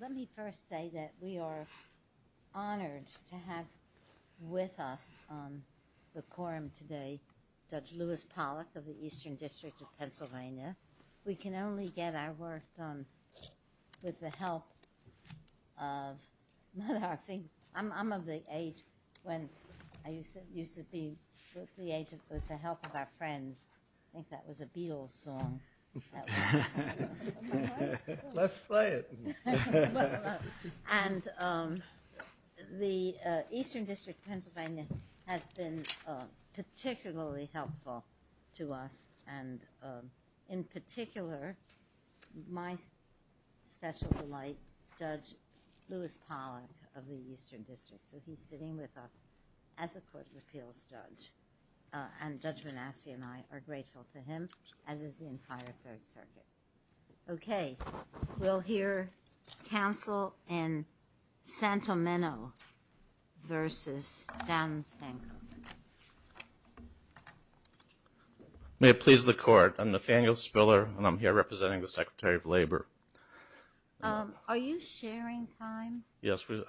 Let me first say that we are honored to have with us on the quorum today Judge Lewis Pollack of the Eastern District of Pennsylvania. We can only get our work done with the help of, I'm of the age when, I used to be, with the help of our friends, I think that was a Beatles song, let's play it, and the Eastern District of Pennsylvania has been particularly helpful to us and in particular my special delight, Judge Lewis Pollack of the Eastern District, so he's sitting with us as a Court Judge Manasseh and I are grateful to him, as is the entire Third Circuit. Okay, we'll hear counsel in Santomenno versus John Hancock. May it please the Court, I'm Nathaniel Spiller and I'm here representing the Secretary of Labor. Are you sharing time? Yes, we're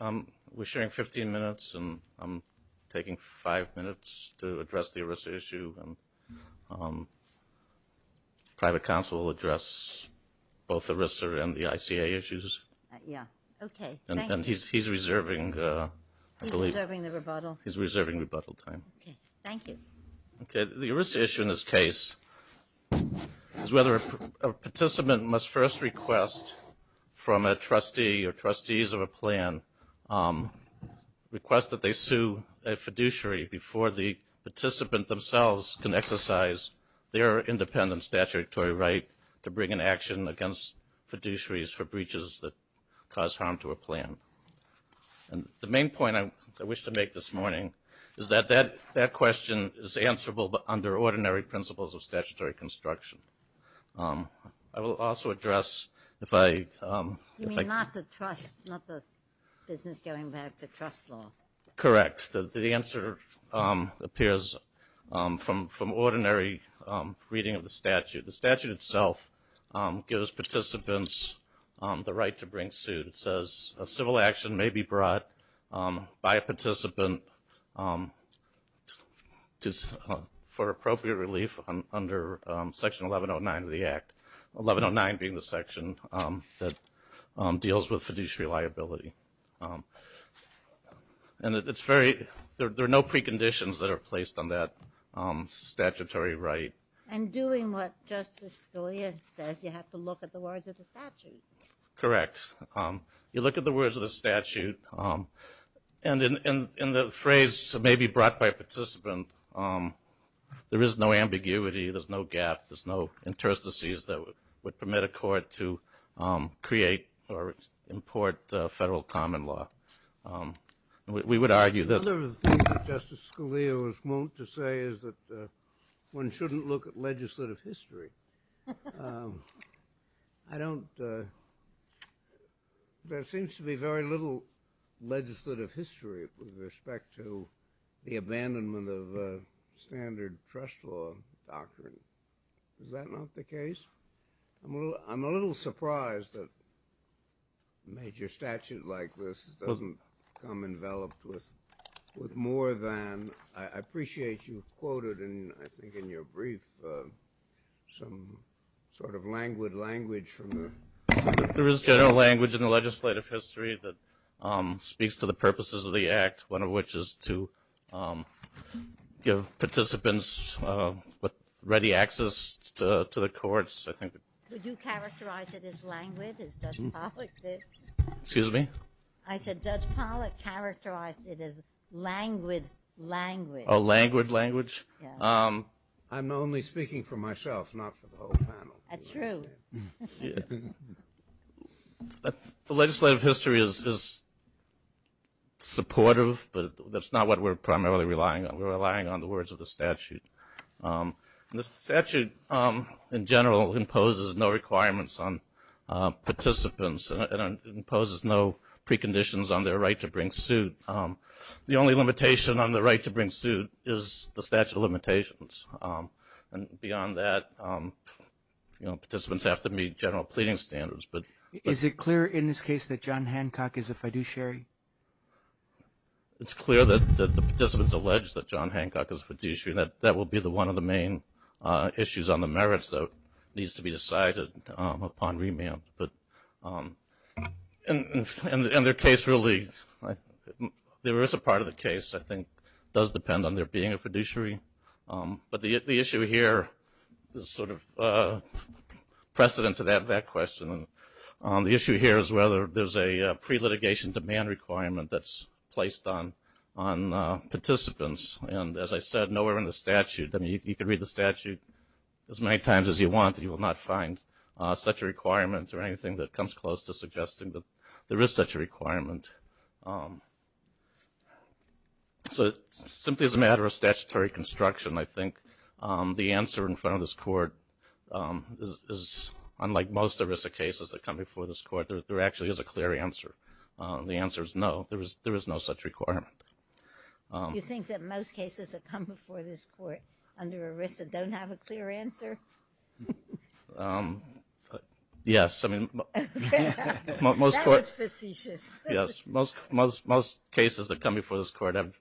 sharing 15 minutes and I'm taking 5 minutes to address the ERISA issue and private counsel will address both the ERISA and the ICA issues and he's reserving the rebuttal time. Okay, thank you. Okay, the ERISA issue in this case is whether a participant must first request from a trustee or trustees of a plan, request that they sue a fiduciary before the participant themselves can exercise their independent statutory right to bring an action against fiduciaries for breaches that cause harm to a plan. And the main point I wish to make this morning is that that question is answerable but under ordinary principles of statutory construction. I will also address if I... You mean not the trust, not the business going back to trust law? Correct. The answer appears from ordinary reading of the statute. The statute itself gives participants the right to bring suit. It says a civil action may be brought by a participant for appropriate relief under Section 1109 of the Act. 1109 being the section that deals with fiduciary liability. And it's very... There are no preconditions that are placed on that statutory right. And doing what Justice Scalia says, you have to look at the words of the statute. Correct. You look at the words of the statute and the phrase may be brought by a participant. There is no ambiguity. There's no gap. There's no interstices that would permit a court to create or import federal common law. We would argue that... Another thing that Justice Scalia was moaned to say is that one shouldn't look at legislative history. I don't... There seems to be very little legislative history with respect to the abandonment of standard trust law doctrine. Is that not the case? I'm a little surprised that a major statute like this doesn't come enveloped with more than... I appreciate you quoted, and I think in your brief, some sort of languid language from the... There is general language in the legislative history that speaks to the purposes of the Act, one of which is to give participants ready access to the courts. Would you characterize it as languid as Judge Pollack did? Excuse me? I said Judge Pollack characterized it as languid language. Oh, languid language? I'm only speaking for myself, not for the whole panel. That's true. The legislative history is supportive, but that's not what we're primarily relying on. We're relying on the words of the statute. The statute, in general, imposes no requirements on participants and imposes no preconditions on their right to bring suit. The only limitation on the right to bring suit is the statute of limitations. And beyond that, participants have to meet general pleading standards. Is it clear in this case that John Hancock is a fiduciary? It's clear that the participants allege that John Hancock is a fiduciary. That will be one of the main issues on the merits that needs to be decided upon remand. And their case really... There is a part of the case, I think, does depend on there being a fiduciary. But the issue here is sort of precedent to that question. The issue here is whether there's a pre-litigation demand requirement that's placed on participants. And as I said, nowhere in the statute... You can read the statute as many times as you want and you will not find such a requirement or anything that comes close to suggesting that there is such a requirement. So simply as a matter of statutory construction, I think the answer in front of this court is unlike most ERISA cases that come before this court, there actually is a clear answer. The answer is no, there is no such requirement. You think that most cases that come before this court under ERISA don't have a clear answer? Yes. That was facetious. Most cases that come before this court have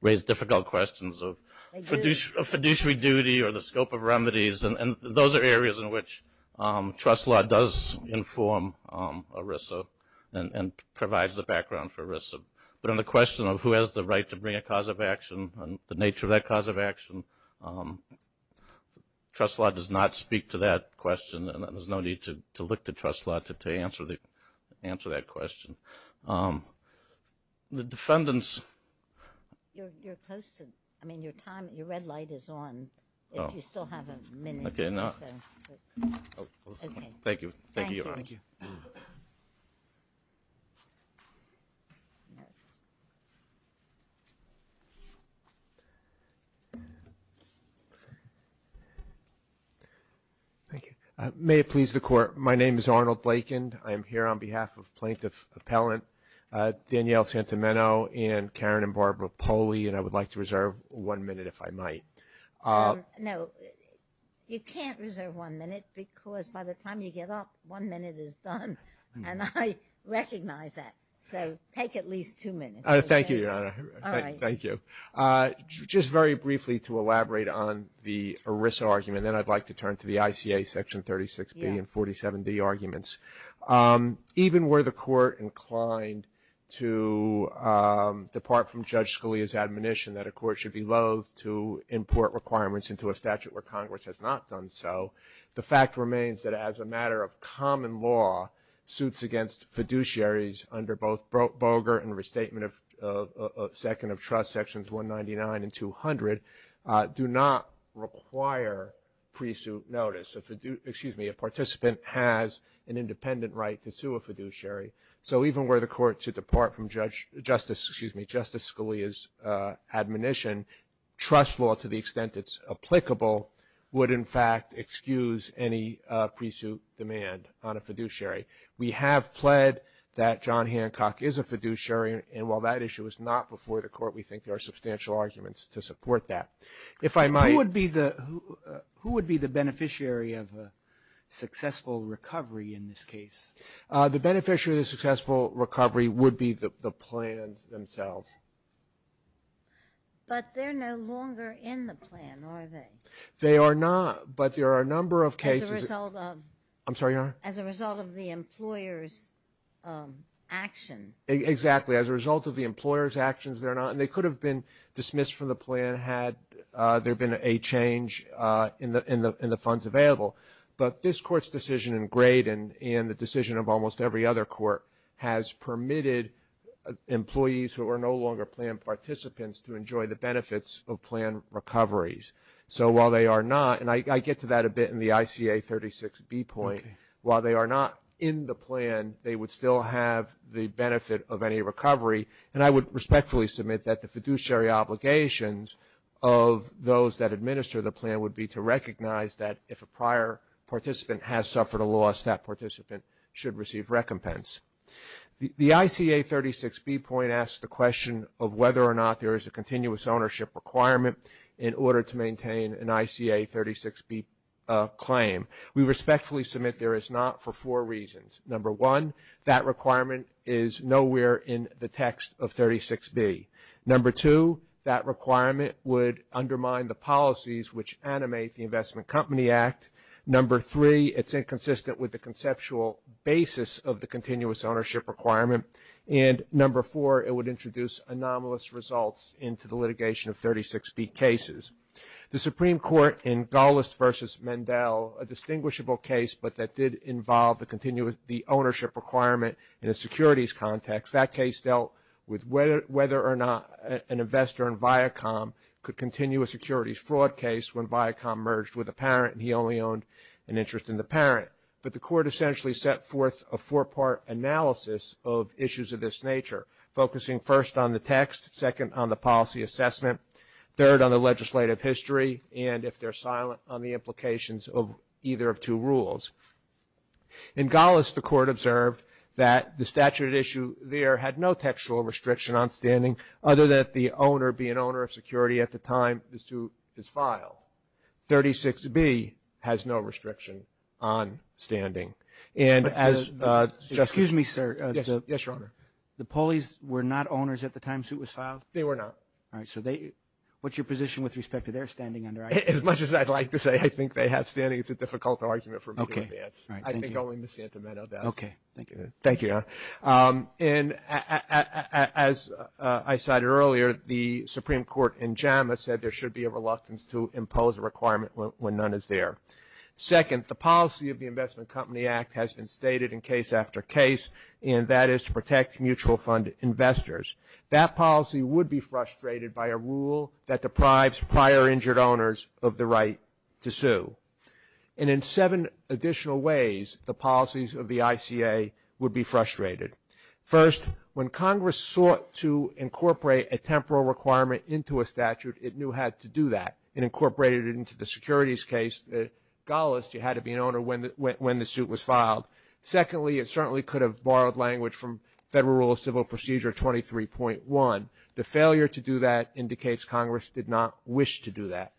raised difficult questions of fiduciary duty or the scope of remedies, and those are areas in which trust law does inform ERISA and provides the background for ERISA. But on the question of who has the right to bring a cause of action and the nature of that cause of action, trust law does not speak to that question and there's no need to look to trust law to answer that question. The defendants... You're close to, I mean, your time, your red light is on. If you still have a minute or so. Thank you. Thank you. Thank you. May it please the Court, my name is Arnold Blakind. I am here on behalf of Plaintiff Appellant Danielle Santomeno and Karen and Barbara Poley and I would like to reserve one minute if I might. No, you can't reserve one minute because by the time you get up, one minute is done and I recognize that, so take at least two minutes. Thank you, Your Honor. All right. Thank you. Just very briefly to elaborate on the ERISA argument, and then I'd like to turn to the ICA Section 36B and 47D arguments. Even were the Court inclined to depart from Judge Scalia's admonition that a Court should be loath to import requirements into a statute where Congress has not done so, the fact remains that as a matter of common law, suits against fiduciaries under both Boger and Restatement of Second of Trust, Sections 199 and 200, do not require pre-suit notice. A participant has an independent right to sue a fiduciary. So even were the Court to depart from Justice Scalia's admonition, trust law to the extent it's applicable would, in fact, excuse any pre-suit demand on a fiduciary. We have pled that John Hancock is a fiduciary, and while that issue is not before the Court, we think there are substantial arguments to support that. If I might. Who would be the beneficiary of a successful recovery in this case? The beneficiary of the successful recovery would be the plans themselves. But they're no longer in the plan, are they? They are not, but there are a number of cases. As a result of. I'm sorry, Your Honor. As a result of the employer's action. Exactly. As a result of the employer's actions, they're not. And they could have been dismissed from the plan had there been a change in the funds available. But this Court's decision in Grade and the decision of almost every other court has permitted employees who are no longer plan participants to enjoy the benefits of plan recoveries. So while they are not, and I get to that a bit in the ICA 36B point, while they are not in the plan, they would still have the benefit of any recovery. And I would respectfully submit that the fiduciary obligations of those that administer the plan would be to recognize that if a prior participant has suffered a loss, that participant should receive recompense. The ICA 36B point asks the question of whether or not there is a continuous ownership requirement in order to maintain an ICA 36B claim. We respectfully submit there is not for four reasons. Number one, that requirement is nowhere in the text of 36B. Number two, that requirement would undermine the policies which animate the Investment Company Act. Number three, it's inconsistent with the conceptual basis of the continuous ownership requirement. And number four, it would introduce anomalous results into the litigation of 36B cases. The Supreme Court in Gallist v. Mendel, a distinguishable case but that did involve the ownership requirement in a securities context, that case dealt with whether or not an investor in Viacom could continue a securities fraud case when Viacom merged with a parent and he only owned an interest in the parent. But the Court essentially set forth a four-part analysis of issues of this nature, focusing first on the text, second on the policy assessment, third on the legislative history, and if they're silent on the implications of either of two rules. In Gallist, the Court observed that the statute at issue there had no textual restriction on standing other than if the owner be an owner of security at the time the suit is filed. 36B has no restriction on standing. And as Justice Kerry. Excuse me, sir. Yes, Your Honor. The Pulleys were not owners at the time the suit was filed? They were not. All right. So what's your position with respect to their standing under ICE? As much as I'd like to say I think they have standing, it's a difficult argument for me to advance. I think only Ms. Santometto does. Okay. Thank you. Thank you, Your Honor. And as I cited earlier, the Supreme Court in JAMA said there should be a reluctance to impose a requirement when none is there. Second, the policy of the Investment Company Act has been stated in case after case, and that is to protect mutual fund investors. That policy would be frustrated by a rule that deprives prior injured owners of the right to sue. And in seven additional ways, the policies of the ICA would be frustrated. First, when Congress sought to incorporate a temporal requirement into a statute, it knew it had to do that. It incorporated it into the securities case. Secondly, it certainly could have borrowed language from Federal Rule of Civil Procedure 23.1. The failure to do that indicates Congress did not wish to do that.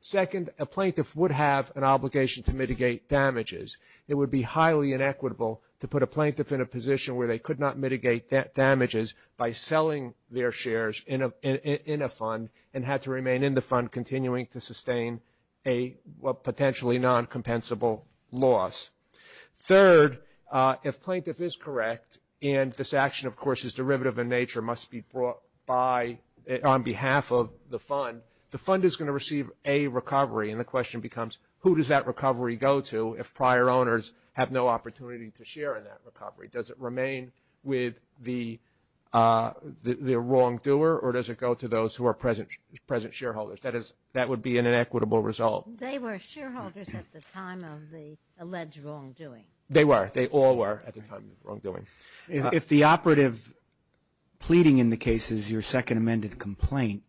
Second, a plaintiff would have an obligation to mitigate damages. It would be highly inequitable to put a plaintiff in a position where they could not mitigate damages by selling their shares in a fund and had to remain in the fund continuing to sustain a potentially non-compensable loss. Third, if plaintiff is correct, and this action, of course, is derivative in nature, must be brought by on behalf of the fund, the fund is going to receive a recovery. And the question becomes, who does that recovery go to if prior owners have no opportunity to share in that recovery? Does it remain with the wrongdoer, or does it go to those who are present shareholders? That would be an inequitable result. They were shareholders at the time of the alleged wrongdoing. They were. They all were at the time of the wrongdoing. If the operative pleading in the case is your second amended complaint,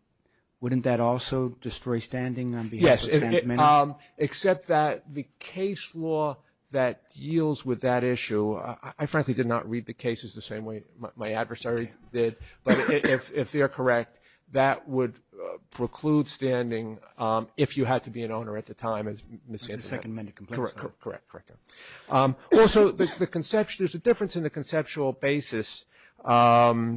wouldn't that also destroy standing on behalf of the second amendment? Yes, except that the case law that deals with that issue, I frankly did not read the cases the same way my adversary did, but if they are correct, that would preclude standing if you had to be an owner at the time. The second amended complaint. Correct, correct. Also, there's a difference in the conceptual basis of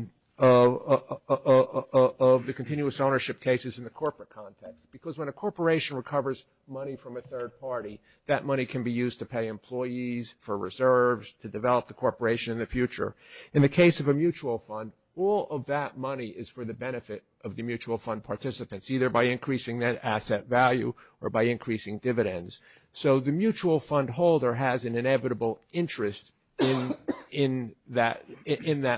the continuous ownership cases in the corporate context, because when a corporation recovers money from a third party, that money can be used to pay employees, for reserves, to develop the corporation in the future. In the case of a mutual fund, all of that money is for the benefit of the mutual fund participants, either by increasing that asset value or by increasing dividends. So the mutual fund holder has an inevitable interest in that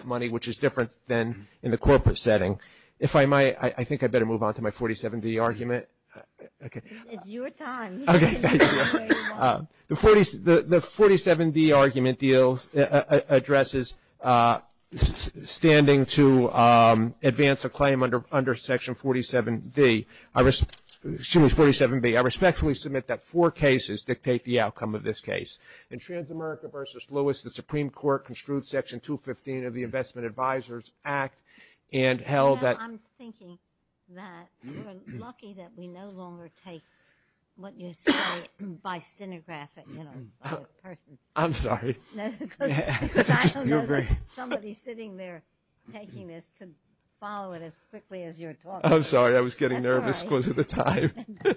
money, which is different than in the corporate setting. If I might, I think I'd better move on to my 47D argument. It's your time. Okay, thank you. The 47D argument addresses standing to advance a claim under Section 47B. I respectfully submit that four cases dictate the outcome of this case. In Transamerica v. Lewis, the Supreme Court construed Section 215 of the Investment Advisors Act and held that. I'm thinking that we're lucky that we no longer take what you say by stenographic, you know, by a person. I'm sorry. Because I don't know that somebody sitting there taking this could follow it as quickly as you're talking. I'm sorry. I was getting nervous because of the time.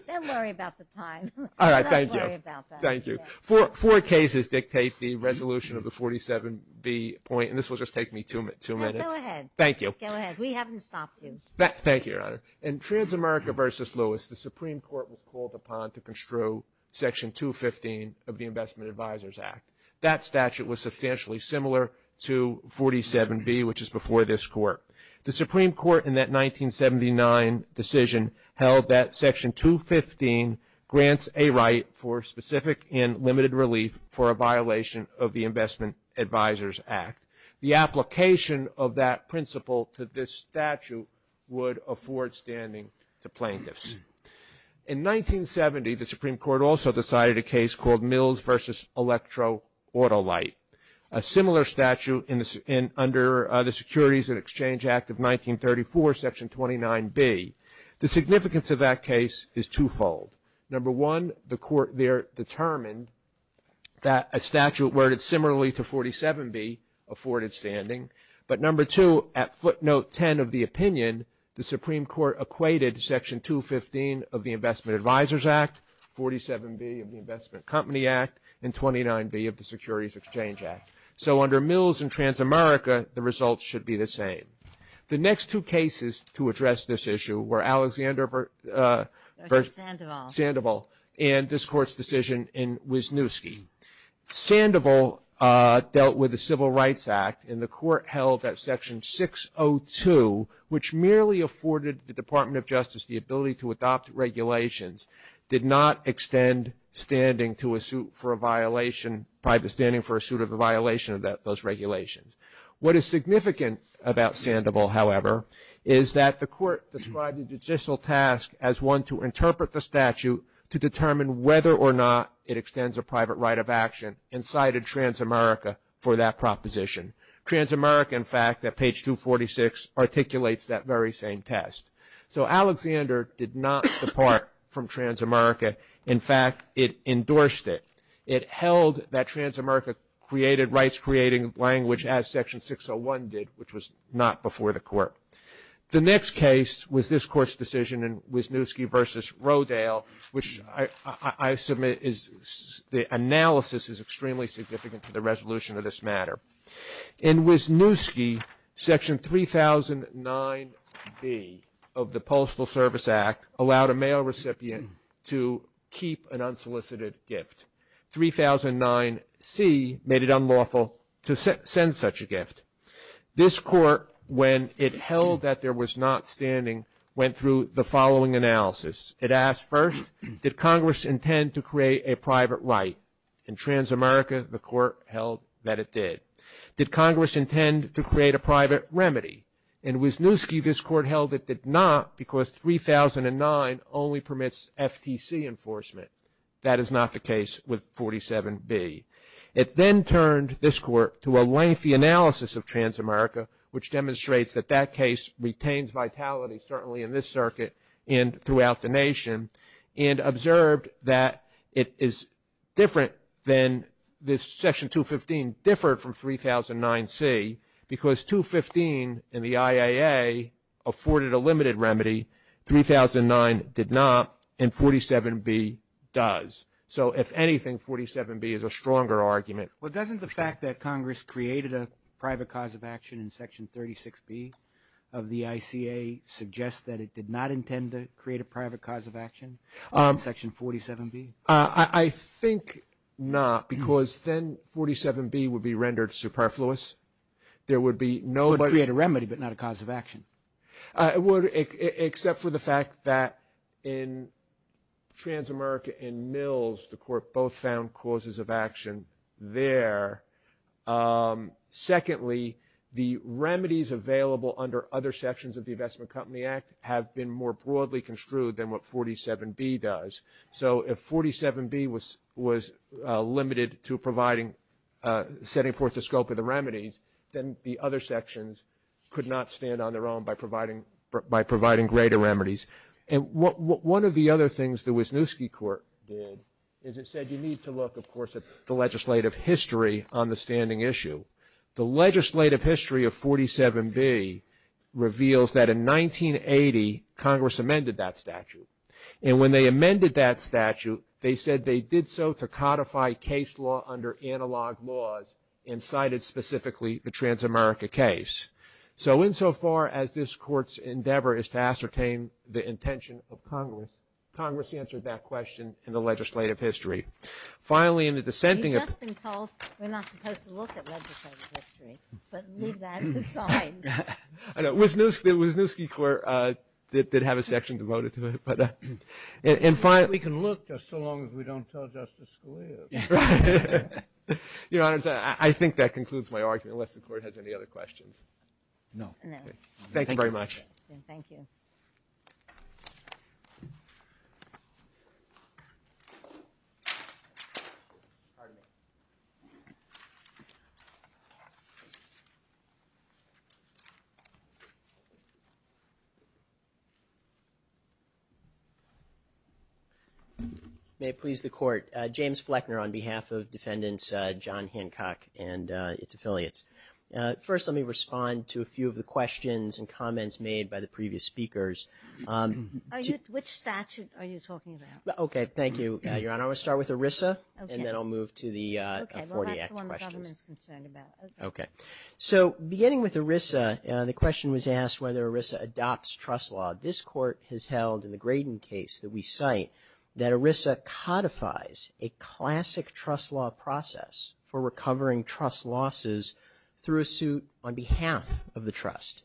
Don't worry about the time. All right, thank you. Let's worry about that. Thank you. Four cases dictate the resolution of the 47B point, and this will just take me two minutes. Go ahead. Thank you. Go ahead. We haven't stopped you. Thank you, Your Honor. In Transamerica v. Lewis, the Supreme Court was called upon to construe Section 215 of the Investment Advisors Act. That statute was substantially similar to 47B, which is before this Court. The Supreme Court in that 1979 decision held that Section 215 grants a right for specific and limited relief for a violation of the Investment Advisors Act. The application of that principle to this statute would afford standing to plaintiffs. In 1970, the Supreme Court also decided a case called Mills v. Electroautolite, a similar statute under the Securities and Exchange Act of 1934, Section 29B. The significance of that case is twofold. Number one, the Court there determined that a statute worded similarly to 47B afforded standing. But number two, at footnote 10 of the opinion, the Supreme Court equated Section 215 of the Investment Advisors Act, 47B of the Investment Company Act, and 29B of the Securities Exchange Act. So under Mills and Transamerica, the results should be the same. The next two cases to address this issue were Alexander v. Sandoval and this Court's decision in Wisniewski. Sandoval dealt with the Civil Rights Act, and the Court held that Section 602, which merely afforded the Department of Justice the ability to adopt regulations, did not extend standing to a suit for a violation, private standing for a suit of a violation of those regulations. What is significant about Sandoval, however, is that the Court described the judicial task as one to interpret the statute to determine whether or not it extends a private right of action, and cited Transamerica for that proposition. Transamerica, in fact, at page 246, articulates that very same test. So Alexander did not depart from Transamerica. In fact, it endorsed it. It held that Transamerica created rights-creating language as Section 601 did, which was not before the Court. The next case was this Court's decision in Wisniewski v. Rodale, which I submit is the analysis is extremely significant to the resolution of this matter. In Wisniewski, Section 3009B of the Postal Service Act allowed a mail recipient to keep an unsolicited gift. 3009C made it unlawful to send such a gift. This Court, when it held that there was not standing, went through the following analysis. It asked first, did Congress intend to create a private right? In Transamerica, the Court held that it did. Did Congress intend to create a private remedy? In Wisniewski, this Court held it did not because 3009 only permits FTC enforcement. That is not the case with 47B. It then turned this Court to a lengthy analysis of Transamerica, which demonstrates that that case retains vitality, certainly in this circuit and throughout the nation, and observed that it is different than this Section 215 differed from 3009C because 215 in the IAA afforded a limited remedy, 3009 did not, and 47B does. So if anything, 47B is a stronger argument. Well, doesn't the fact that Congress created a private cause of action in Section 36B of the ICA suggest that it did not intend to create a private cause of action in Section 47B? I think not, because then 47B would be rendered superfluous. There would be nobody. It would create a remedy but not a cause of action. It would, except for the fact that in Transamerica and Mills, the Court both found causes of action there. Secondly, the remedies available under other sections of the Investment Company Act have been more broadly construed than what 47B does. So if 47B was limited to providing, setting forth the scope of the remedies, then the other sections could not stand on their own by providing greater remedies. And one of the other things the Wisniewski Court did is it said you need to look, of course, at the legislative history on the standing issue. The legislative history of 47B reveals that in 1980 Congress amended that statute, and when they amended that statute, they said they did so to codify case law under analog laws and cited specifically the Transamerica case. So insofar as this Court's endeavor is to ascertain the intention of Congress, Congress answered that question in the legislative history. Finally, in the dissenting of the- You've just been told we're not supposed to look at legislative history, but leave that as a sign. The Wisniewski Court did have a section devoted to it. We can look just so long as we don't tell Justice Scalia. Your Honor, I think that concludes my argument, unless the Court has any other questions. No. Thank you very much. Thank you. May it please the Court. James Fleckner on behalf of Defendants John Hancock and its affiliates. First, let me respond to a few of the questions and comments made by the previous speakers. Which statute are you talking about? Okay. Thank you, Your Honor. I'm going to start with ERISA, and then I'll move to the 40 Act questions. Okay. Well, that's the one the government's concerned about. Okay. So, beginning with ERISA, the question was asked whether ERISA adopts trust law. This Court has held, in the Graydon case that we cite, that ERISA codifies a classic trust law process for recovering trust losses through a suit on behalf of the trust.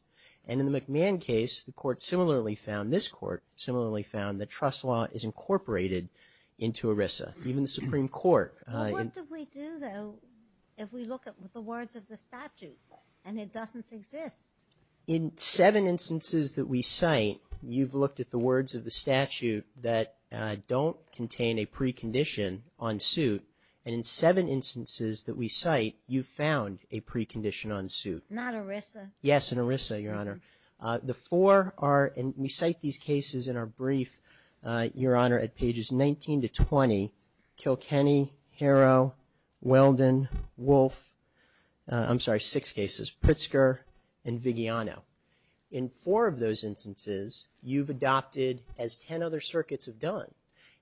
And in the McMahon case, the Court similarly found, this Court similarly found, that trust law is incorporated into ERISA. Even the Supreme Court- In seven instances that we cite, you've looked at the words of the statute that don't contain a precondition on suit. And in seven instances that we cite, you found a precondition on suit. Not ERISA? Yes, in ERISA, Your Honor. The four are, and we cite these cases in our brief, Your Honor, at pages 19 to 20. Kilkenny, Harrow, Weldon, Wolf, I'm sorry, six cases, Pritzker, and Vigiano. In four of those instances, you've adopted, as 10 other circuits have done,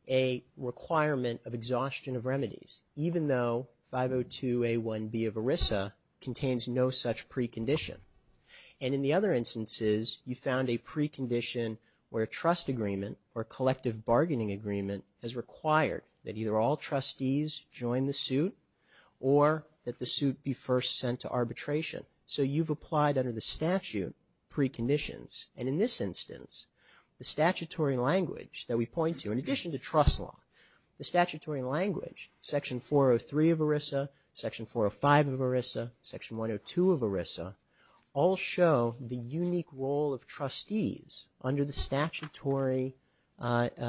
a requirement of exhaustion of remedies, even though 502A1B of ERISA contains no such precondition. And in the other instances, you found a precondition where a trust agreement or collective bargaining agreement has required that either all trustees join the suit or that the suit be first sent to arbitration. So you've applied under the statute preconditions. And in this instance, the statutory language that we point to, in addition to trust law, the statutory language, Section 403 of ERISA, Section 405 of ERISA, Section 102 of ERISA, all show the unique role of trustees under the statutory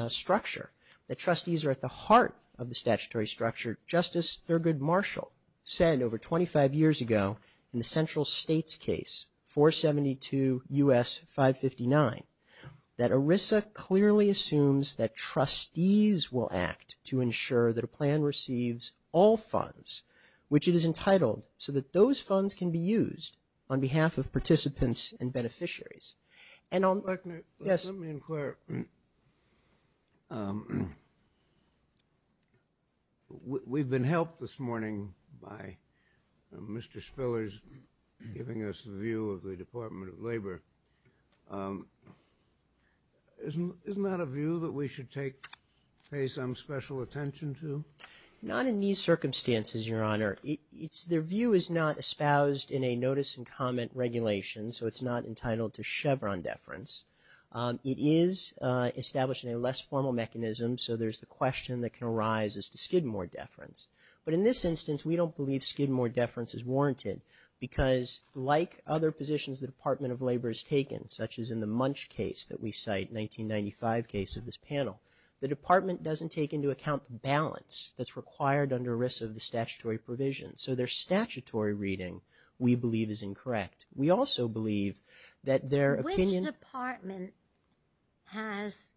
structure, that trustees are at the heart of the statutory structure. Justice Thurgood Marshall said, over 25 years ago, in the central states case, 472 U.S. 559, that ERISA clearly assumes that trustees will act to ensure that a plan receives all funds, which it is entitled, so that those funds can be used on behalf of participants and beneficiaries. And I'll – Let me inquire. We've been helped this morning by Mr. Spillers giving us the view of the Department of Labor. Isn't that a view that we should take – pay some special attention to? Not in these circumstances, Your Honor. Their view is not espoused in a notice and comment regulation, so it's not entitled to Chevron deference. It is established in a less formal mechanism, so there's the question that can arise as to Skidmore deference. But in this instance, we don't believe Skidmore deference is warranted, because like other positions the Department of Labor has taken, such as in the Munch case that we cite, 1995 case of this panel, the Department doesn't take into account the balance that's required under ERISA of the statutory provision. So their statutory reading, we believe, is incorrect. We also believe that their opinion – Which department has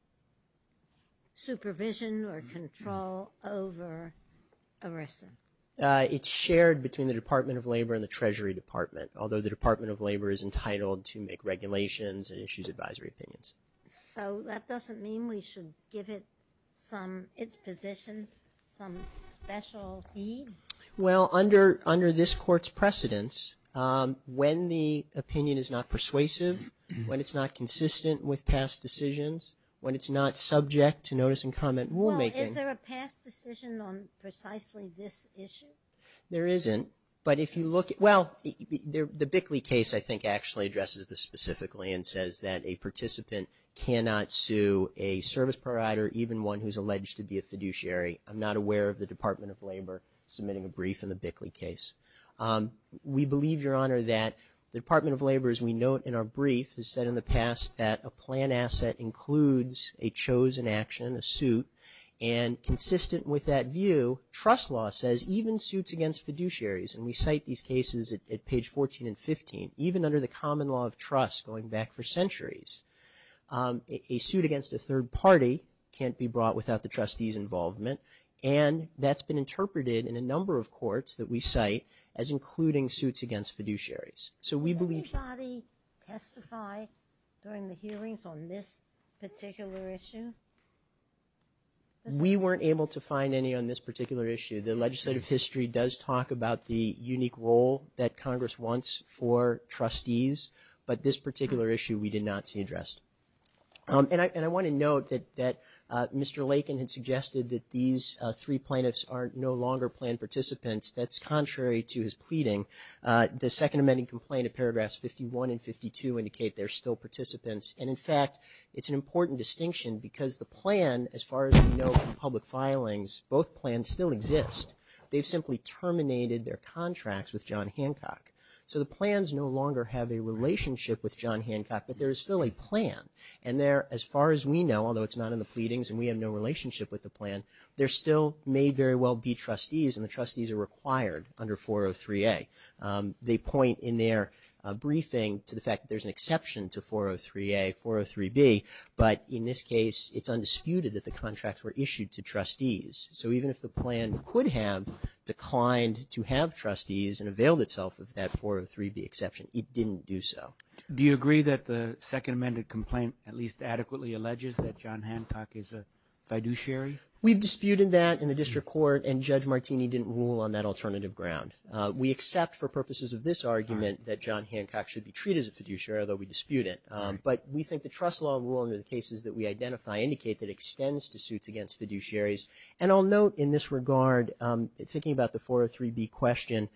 supervision or control over ERISA? It's shared between the Department of Labor and the Treasury Department, although the Department of Labor is entitled to make regulations and issues advisory opinions. So that doesn't mean we should give it some – its position some special need? Well, under this Court's precedence, when the opinion is not persuasive, when it's not consistent with past decisions, when it's not subject to notice and comment rulemaking – Well, is there a past decision on precisely this issue? There isn't, but if you look – well, the Bickley case, I think, actually addresses this specifically and says that a participant cannot sue a service provider, even one who's alleged to be a fiduciary. I'm not aware of the Department of Labor submitting a brief in the Bickley case. We believe, Your Honor, that the Department of Labor, as we note in our brief, has said in the past that a plan asset includes a chosen action, a suit, and consistent with that view, trust law says even suits against fiduciaries – and we cite these cases at page 14 and 15, even under the common law of trust going back for centuries – a suit against a third party can't be brought without the trustee's involvement, and that's been interpreted in a number of courts that we cite as including suits against fiduciaries. So we believe – Did anybody testify during the hearings on this particular issue? We weren't able to find any on this particular issue. The legislative history does talk about the unique role that Congress wants for trustees, but this particular issue we did not see addressed. And I want to note that Mr. Lakin had suggested that these three plaintiffs are no longer planned participants. That's contrary to his pleading. The second amending complaint of paragraphs 51 and 52 indicate they're still participants, and, in fact, it's an important distinction because the plan, as far as we know from public filings, both plans still exist. They've simply terminated their contracts with John Hancock. So the plans no longer have a relationship with John Hancock, but there is still a plan, and there, as far as we know, although it's not in the pleadings and we have no relationship with the plan, there still may very well be trustees, and the trustees are required under 403A. They point in their briefing to the fact that there's an exception to 403A, 403B, but in this case it's undisputed that the contracts were issued to trustees. So even if the plan could have declined to have trustees and availed itself of that 403B exception, it didn't do so. Do you agree that the second amended complaint at least adequately alleges that John Hancock is a fiduciary? We've disputed that in the district court, and Judge Martini didn't rule on that alternative ground. We accept for purposes of this argument that John Hancock should be treated as a fiduciary, although we dispute it, but we think the trust law rule under the cases that we identify indicate that it extends to suits against fiduciaries. And I'll note in this regard, thinking about the 403B question,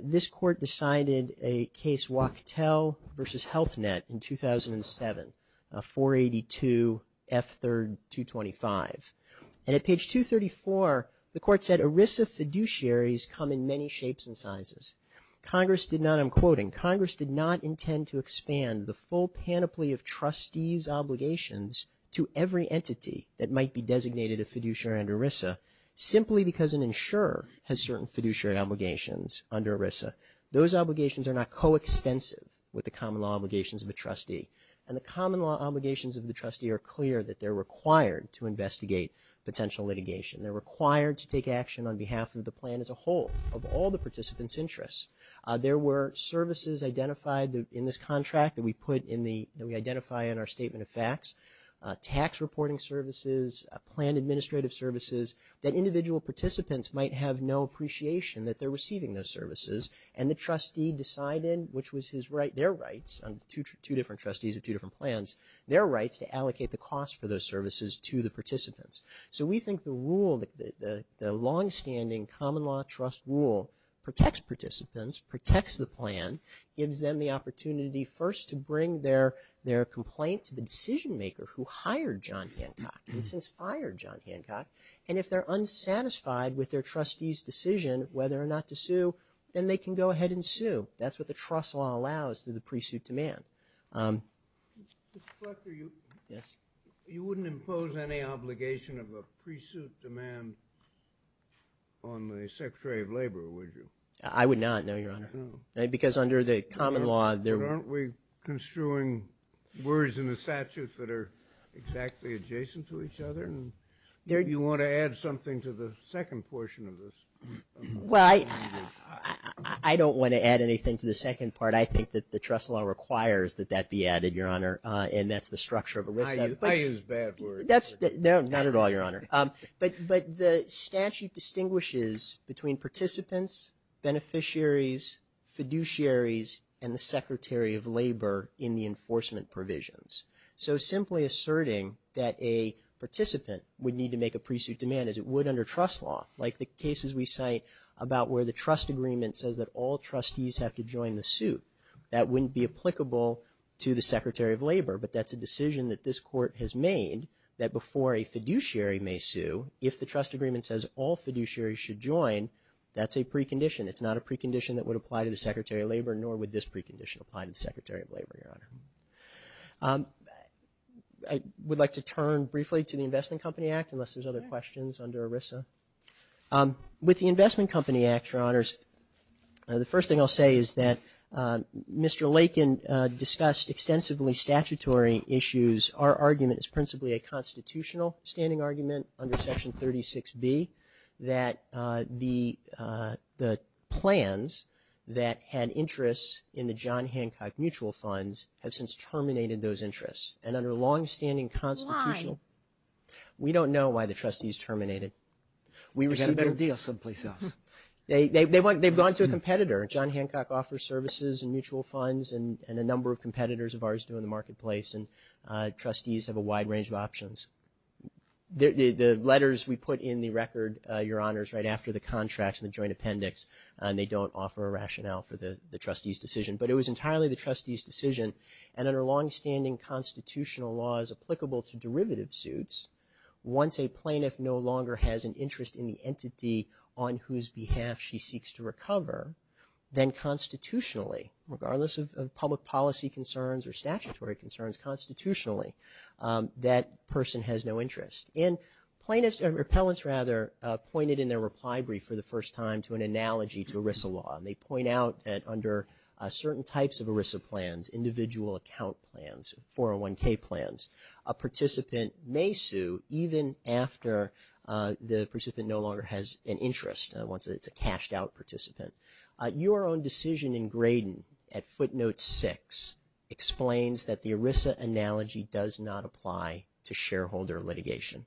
this court decided a case Wachtell v. Health Net in 2007, 482F3-225. And at page 234, the court said ERISA fiduciaries come in many shapes and sizes. Congress did not, I'm quoting, Congress did not intend to expand the full panoply of trustees' obligations to every entity that might be designated a fiduciary under ERISA simply because an insurer has certain fiduciary obligations under ERISA. Those obligations are not coextensive with the common law obligations of a trustee. And the common law obligations of the trustee are clear that they're required to investigate potential litigation. They're required to take action on behalf of the plan as a whole of all the participants' interests. There were services identified in this contract that we put in the, that we identify in our statement of facts, tax reporting services, plan administrative services, that individual participants might have no appreciation that they're receiving those services. And the trustee decided, which was his right, their rights, two different trustees of two different plans, their rights to allocate the cost for those services to the participants. So we think the rule, the longstanding common law trust rule protects participants, protects the plan, gives them the opportunity first to bring their complaint to the decision maker who hired John Hancock and since fired John Hancock. And if they're unsatisfied with their trustee's decision whether or not to sue, then they can go ahead and sue. That's what the trust law allows through the pre-suit demand. Mr. Fleckner, you wouldn't impose any obligation of a pre-suit demand on the Secretary of Labor, would you? I would not, no, Your Honor. No. Because under the common law. Aren't we construing words in the statutes that are exactly adjacent to each other? Do you want to add something to the second portion of this? Well, I don't want to add anything to the second part. But I think that the trust law requires that that be added, Your Honor, and that's the structure of it. I use bad words. No, not at all, Your Honor. But the statute distinguishes between participants, beneficiaries, fiduciaries, and the Secretary of Labor in the enforcement provisions. So simply asserting that a participant would need to make a pre-suit demand as it would under trust law, like the cases we cite about where the trust agreement says that all trustees have to join the suit. That wouldn't be applicable to the Secretary of Labor, but that's a decision that this Court has made that before a fiduciary may sue, if the trust agreement says all fiduciaries should join, that's a precondition. It's not a precondition that would apply to the Secretary of Labor, nor would this precondition apply to the Secretary of Labor, Your Honor. I would like to turn briefly to the Investment Company Act unless there's other questions under ERISA. With the Investment Company Act, Your Honors, the first thing I'll say is that Mr. Lakin discussed extensively statutory issues. Our argument is principally a constitutional standing argument under Section 36B that the plans that had interest in the John Hancock mutual funds have since terminated those interests. And under a long-standing constitutional… Why? We don't know why the trustees terminated. They had a better deal someplace else. They've gone to a competitor. John Hancock offers services and mutual funds, and a number of competitors of ours do in the marketplace, and trustees have a wide range of options. The letters we put in the record, Your Honors, right after the contracts and the joint appendix, they don't offer a rationale for the trustees' decision. But it was entirely the trustees' decision, and under long-standing constitutional laws applicable to derivative suits, once a plaintiff no longer has an interest in the entity on whose behalf she seeks to recover, then constitutionally, regardless of public policy concerns or statutory concerns, constitutionally, that person has no interest. And plaintiffs, or repellents rather, pointed in their reply brief for the first time to an analogy to ERISA law, and they point out that under certain types of ERISA plans, individual account plans, 401K plans, a participant may sue even after the participant no longer has an interest, once it's a cashed-out participant. Your Own Decision in Graydon, at footnote 6, explains that the ERISA analogy does not apply to shareholder litigation.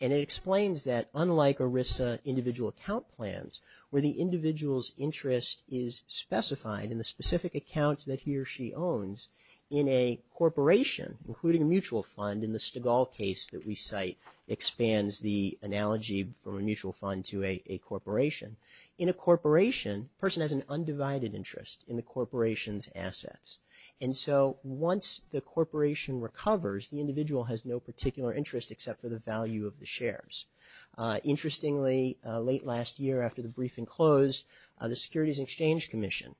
And it explains that, unlike ERISA individual account plans, where the individual's interest is specified in the specific account that he or she owns, in a corporation, including a mutual fund, in the Stigall case that we cite, expands the analogy from a mutual fund to a corporation. In a corporation, a person has an undivided interest in the corporation's assets. And so once the corporation recovers, the individual has no particular interest except for the value of the shares. Interestingly, late last year after the briefing closed, the Securities and Exchange Commission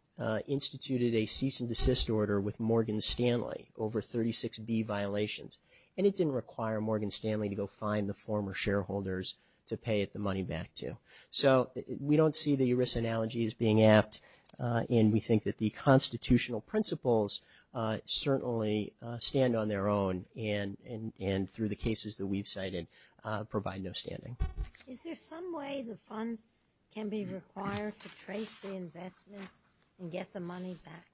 instituted a cease and desist order with Morgan Stanley over 36B violations. And it didn't require Morgan Stanley to go find the former shareholders to pay the money back to. So we don't see the ERISA analogy as being apt, and we think that the constitutional principles certainly stand on their own, and through the cases that we've cited, provide no standing. Is there some way the funds can be required to trace the investments and get the money back?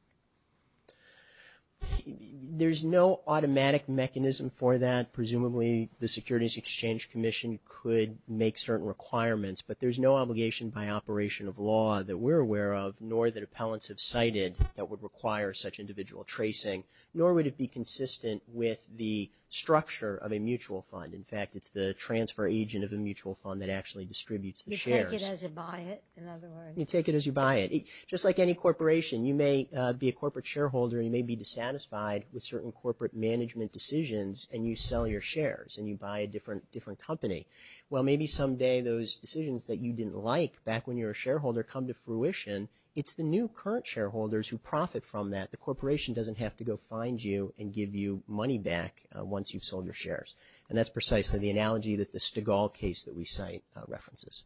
There's no automatic mechanism for that. Presumably the Securities and Exchange Commission could make certain requirements, but there's no obligation by operation of law that we're aware of, nor that appellants have cited that would require such individual tracing, nor would it be consistent with the structure of a mutual fund. In fact, it's the transfer agent of a mutual fund that actually distributes the shares. You take it as you buy it, in other words? You take it as you buy it. Just like any corporation, you may be a corporate shareholder, you may be dissatisfied with certain corporate management decisions, and you sell your shares and you buy a different company. Well, maybe someday those decisions that you didn't like back when you were a shareholder come to fruition. It's the new current shareholders who profit from that. The corporation doesn't have to go find you and give you money back once you've sold your shares, and that's precisely the analogy that the Stigall case that we cite references.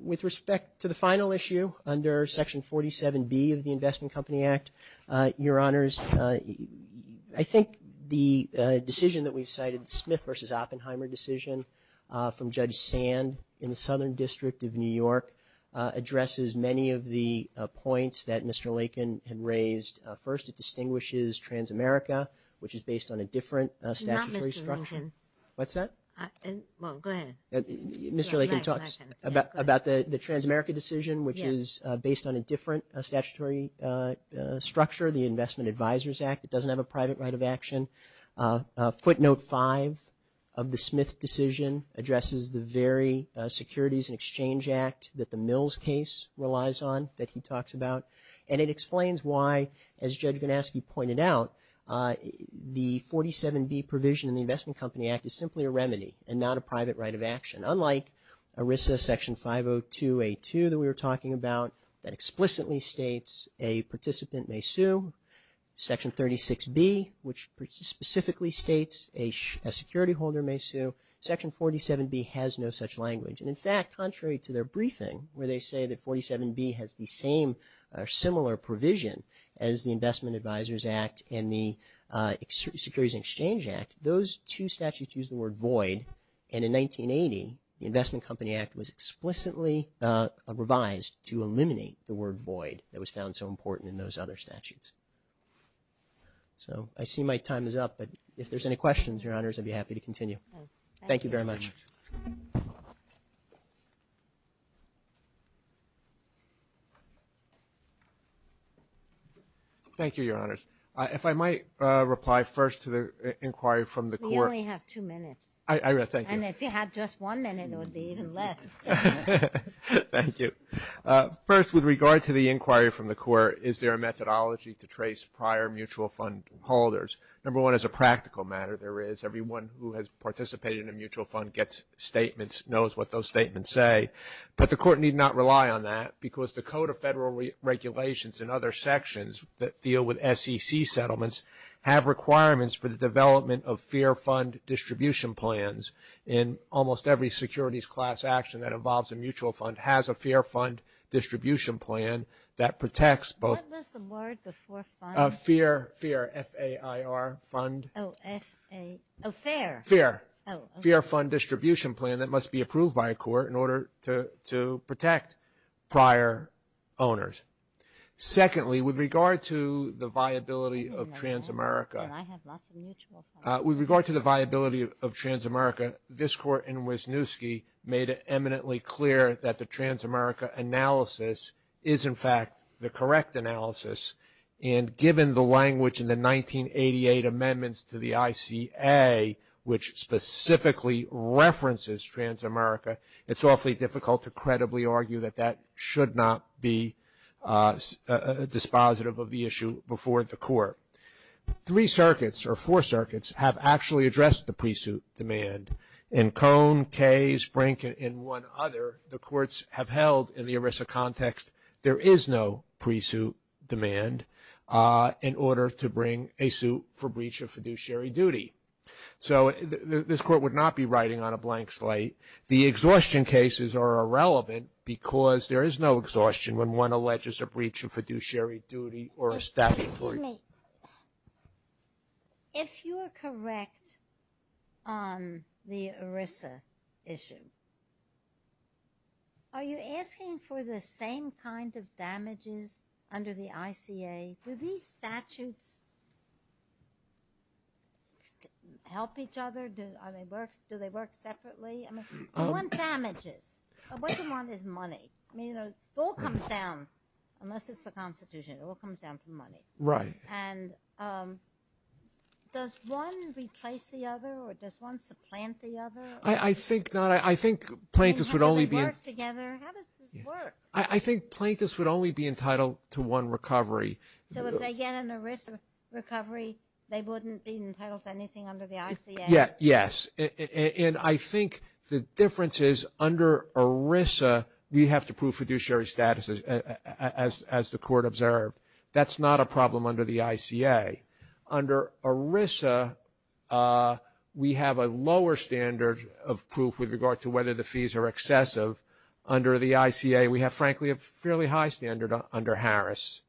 With respect to the final issue under Section 47B of the Investment Company Act, Your Honors, I think the decision that we've cited, the Smith v. Oppenheimer decision from Judge Sand in the Southern District of New York, addresses many of the points that Mr. Lakin had raised. First, it distinguishes Transamerica, which is based on a different statutory structure. Not Mr. Lakin. What's that? Well, go ahead. Mr. Lakin talks about the Transamerica decision, which is based on a different statutory structure, the Investment Advisors Act. It doesn't have a private right of action. Footnote 5 of the Smith decision addresses the very Securities and Exchange Act that the Mills case relies on that he talks about, and it explains why, as Judge Ganaski pointed out, the 47B provision in the Investment Company Act is simply a remedy and not a private right of action. Unlike ERISA Section 502A2 that we were talking about, that explicitly states a participant may sue, Section 36B, which specifically states a security holder may sue, Section 47B has no such language. And, in fact, contrary to their briefing, where they say that 47B has the same or similar provision as the Investment Advisors Act and the Securities and Exchange Act, those two statutes use the word void, and in 1980 the Investment Company Act was explicitly revised to eliminate the word void that was found so important in those other statutes. So I see my time is up, but if there's any questions, Your Honors, I'd be happy to continue. Thank you very much. Thank you, Your Honors. You only have two minutes. Thank you. And if you had just one minute, it would be even less. Thank you. First, with regard to the inquiry from the Court, is there a methodology to trace prior mutual fund holders? Number one, as a practical matter, there is. Everyone who has participated in a mutual fund gets statements, knows what those statements say. But the Court need not rely on that because the Code of Federal Regulations and other sections that deal with SEC settlements have requirements for the development of Fair Fund Distribution Plans, and almost every securities class action that involves a mutual fund has a Fair Fund Distribution Plan that protects both. What was the word before funds? Fair, F-A-I-R, fund. Oh, F-A, oh, fair. Fair. Fair Fund Distribution Plan that must be approved by a court in order to protect prior owners. Secondly, with regard to the viability of Transamerica. I have lots of mutual funds. With regard to the viability of Transamerica, this Court in Wisniewski made it eminently clear that the Transamerica analysis is, in fact, the correct analysis. And given the language in the 1988 amendments to the ICA, which specifically references Transamerica, it's awfully difficult to credibly argue that that should not be dispositive of the issue before the Court. Three circuits, or four circuits, have actually addressed the pre-suit demand. In Cone, Case, Brink, and one other, the Courts have held in the ERISA context there is no pre-suit demand in order to bring a suit for breach of fiduciary duty. So this Court would not be writing on a blank slate. The exhaustion cases are irrelevant because there is no exhaustion when one alleges a breach of fiduciary duty or a statute. Excuse me. If you are correct on the ERISA issue, are you asking for the same kind of damages under the ICA? Do these statutes help each other? Do they work separately? I mean, who wants damages? What you want is money. It all comes down, unless it's the Constitution, it all comes down to money. Right. And does one replace the other or does one supplant the other? I think plaintiffs would only be entitled to one recovery. So if they get an ERISA recovery, they wouldn't be entitled to anything under the ICA? Yes. And I think the difference is under ERISA, we have to prove fiduciary status as the Court observed. That's not a problem under the ICA. Under ERISA, we have a lower standard of proof with regard to whether the fees are excessive. Under the ICA, we have, frankly, a fairly high standard under Harris.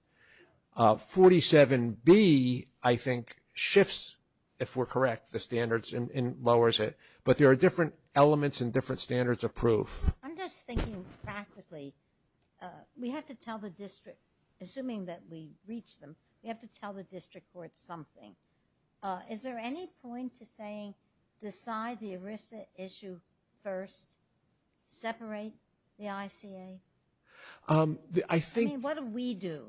47B, I think, shifts, if we're correct, the standards and lowers it. But there are different elements and different standards of proof. I'm just thinking practically. We have to tell the district, assuming that we reach them, we have to tell the district court something. Is there any point to saying decide the ERISA issue first, separate the ICA? I mean, what do we do?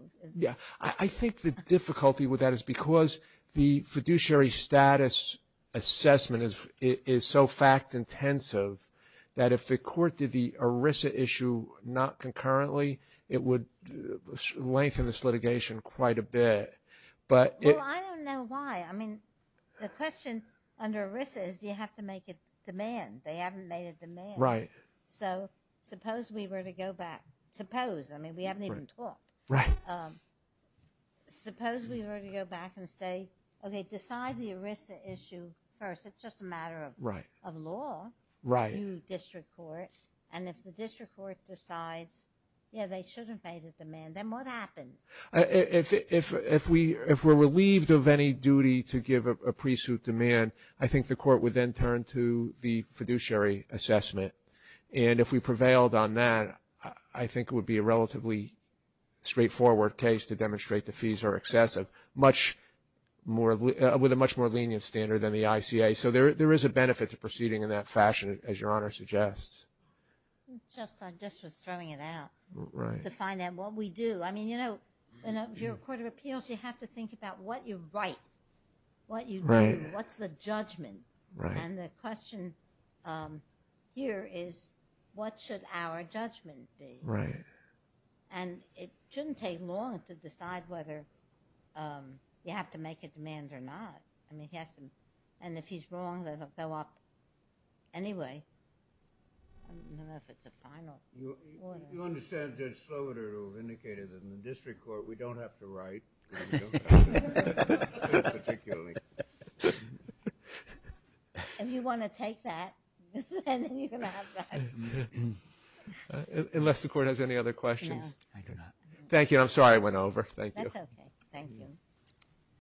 I think the difficulty with that is because the fiduciary status assessment is so fact-intensive that if the Court did the ERISA issue not concurrently, it would lengthen this litigation quite a bit. Well, I don't know why. I mean, the question under ERISA is do you have to make a demand? They haven't made a demand. Right. So suppose we were to go back. Suppose. I mean, we haven't even talked. Right. Suppose we were to go back and say, okay, decide the ERISA issue first. It's just a matter of law to district court. And if the district court decides, yeah, they should have made a demand, then what happens? If we're relieved of any duty to give a pre-suit demand, I think the Court would then turn to the fiduciary assessment. And if we prevailed on that, I think it would be a relatively straightforward case to demonstrate the fees are excessive with a much more lenient standard than the ICA. So there is a benefit to proceeding in that fashion, as Your Honor suggests. I guess I was just throwing it out to find out what we do. I mean, you know, if you're a court of appeals, you have to think about what you write, what you do, what's the judgment. Right. And the question here is, what should our judgment be? Right. And it shouldn't take long to decide whether you have to make a demand or not. I mean, he has to. And if he's wrong, then it will go up anyway. I don't know if it's a final order. You understand Judge Slobodur, who indicated that in the district court, we don't have to write. Particularly. If you want to take that, then you can have that. Unless the court has any other questions. I do not. Thank you. I'm sorry I went over. That's okay. Thank you.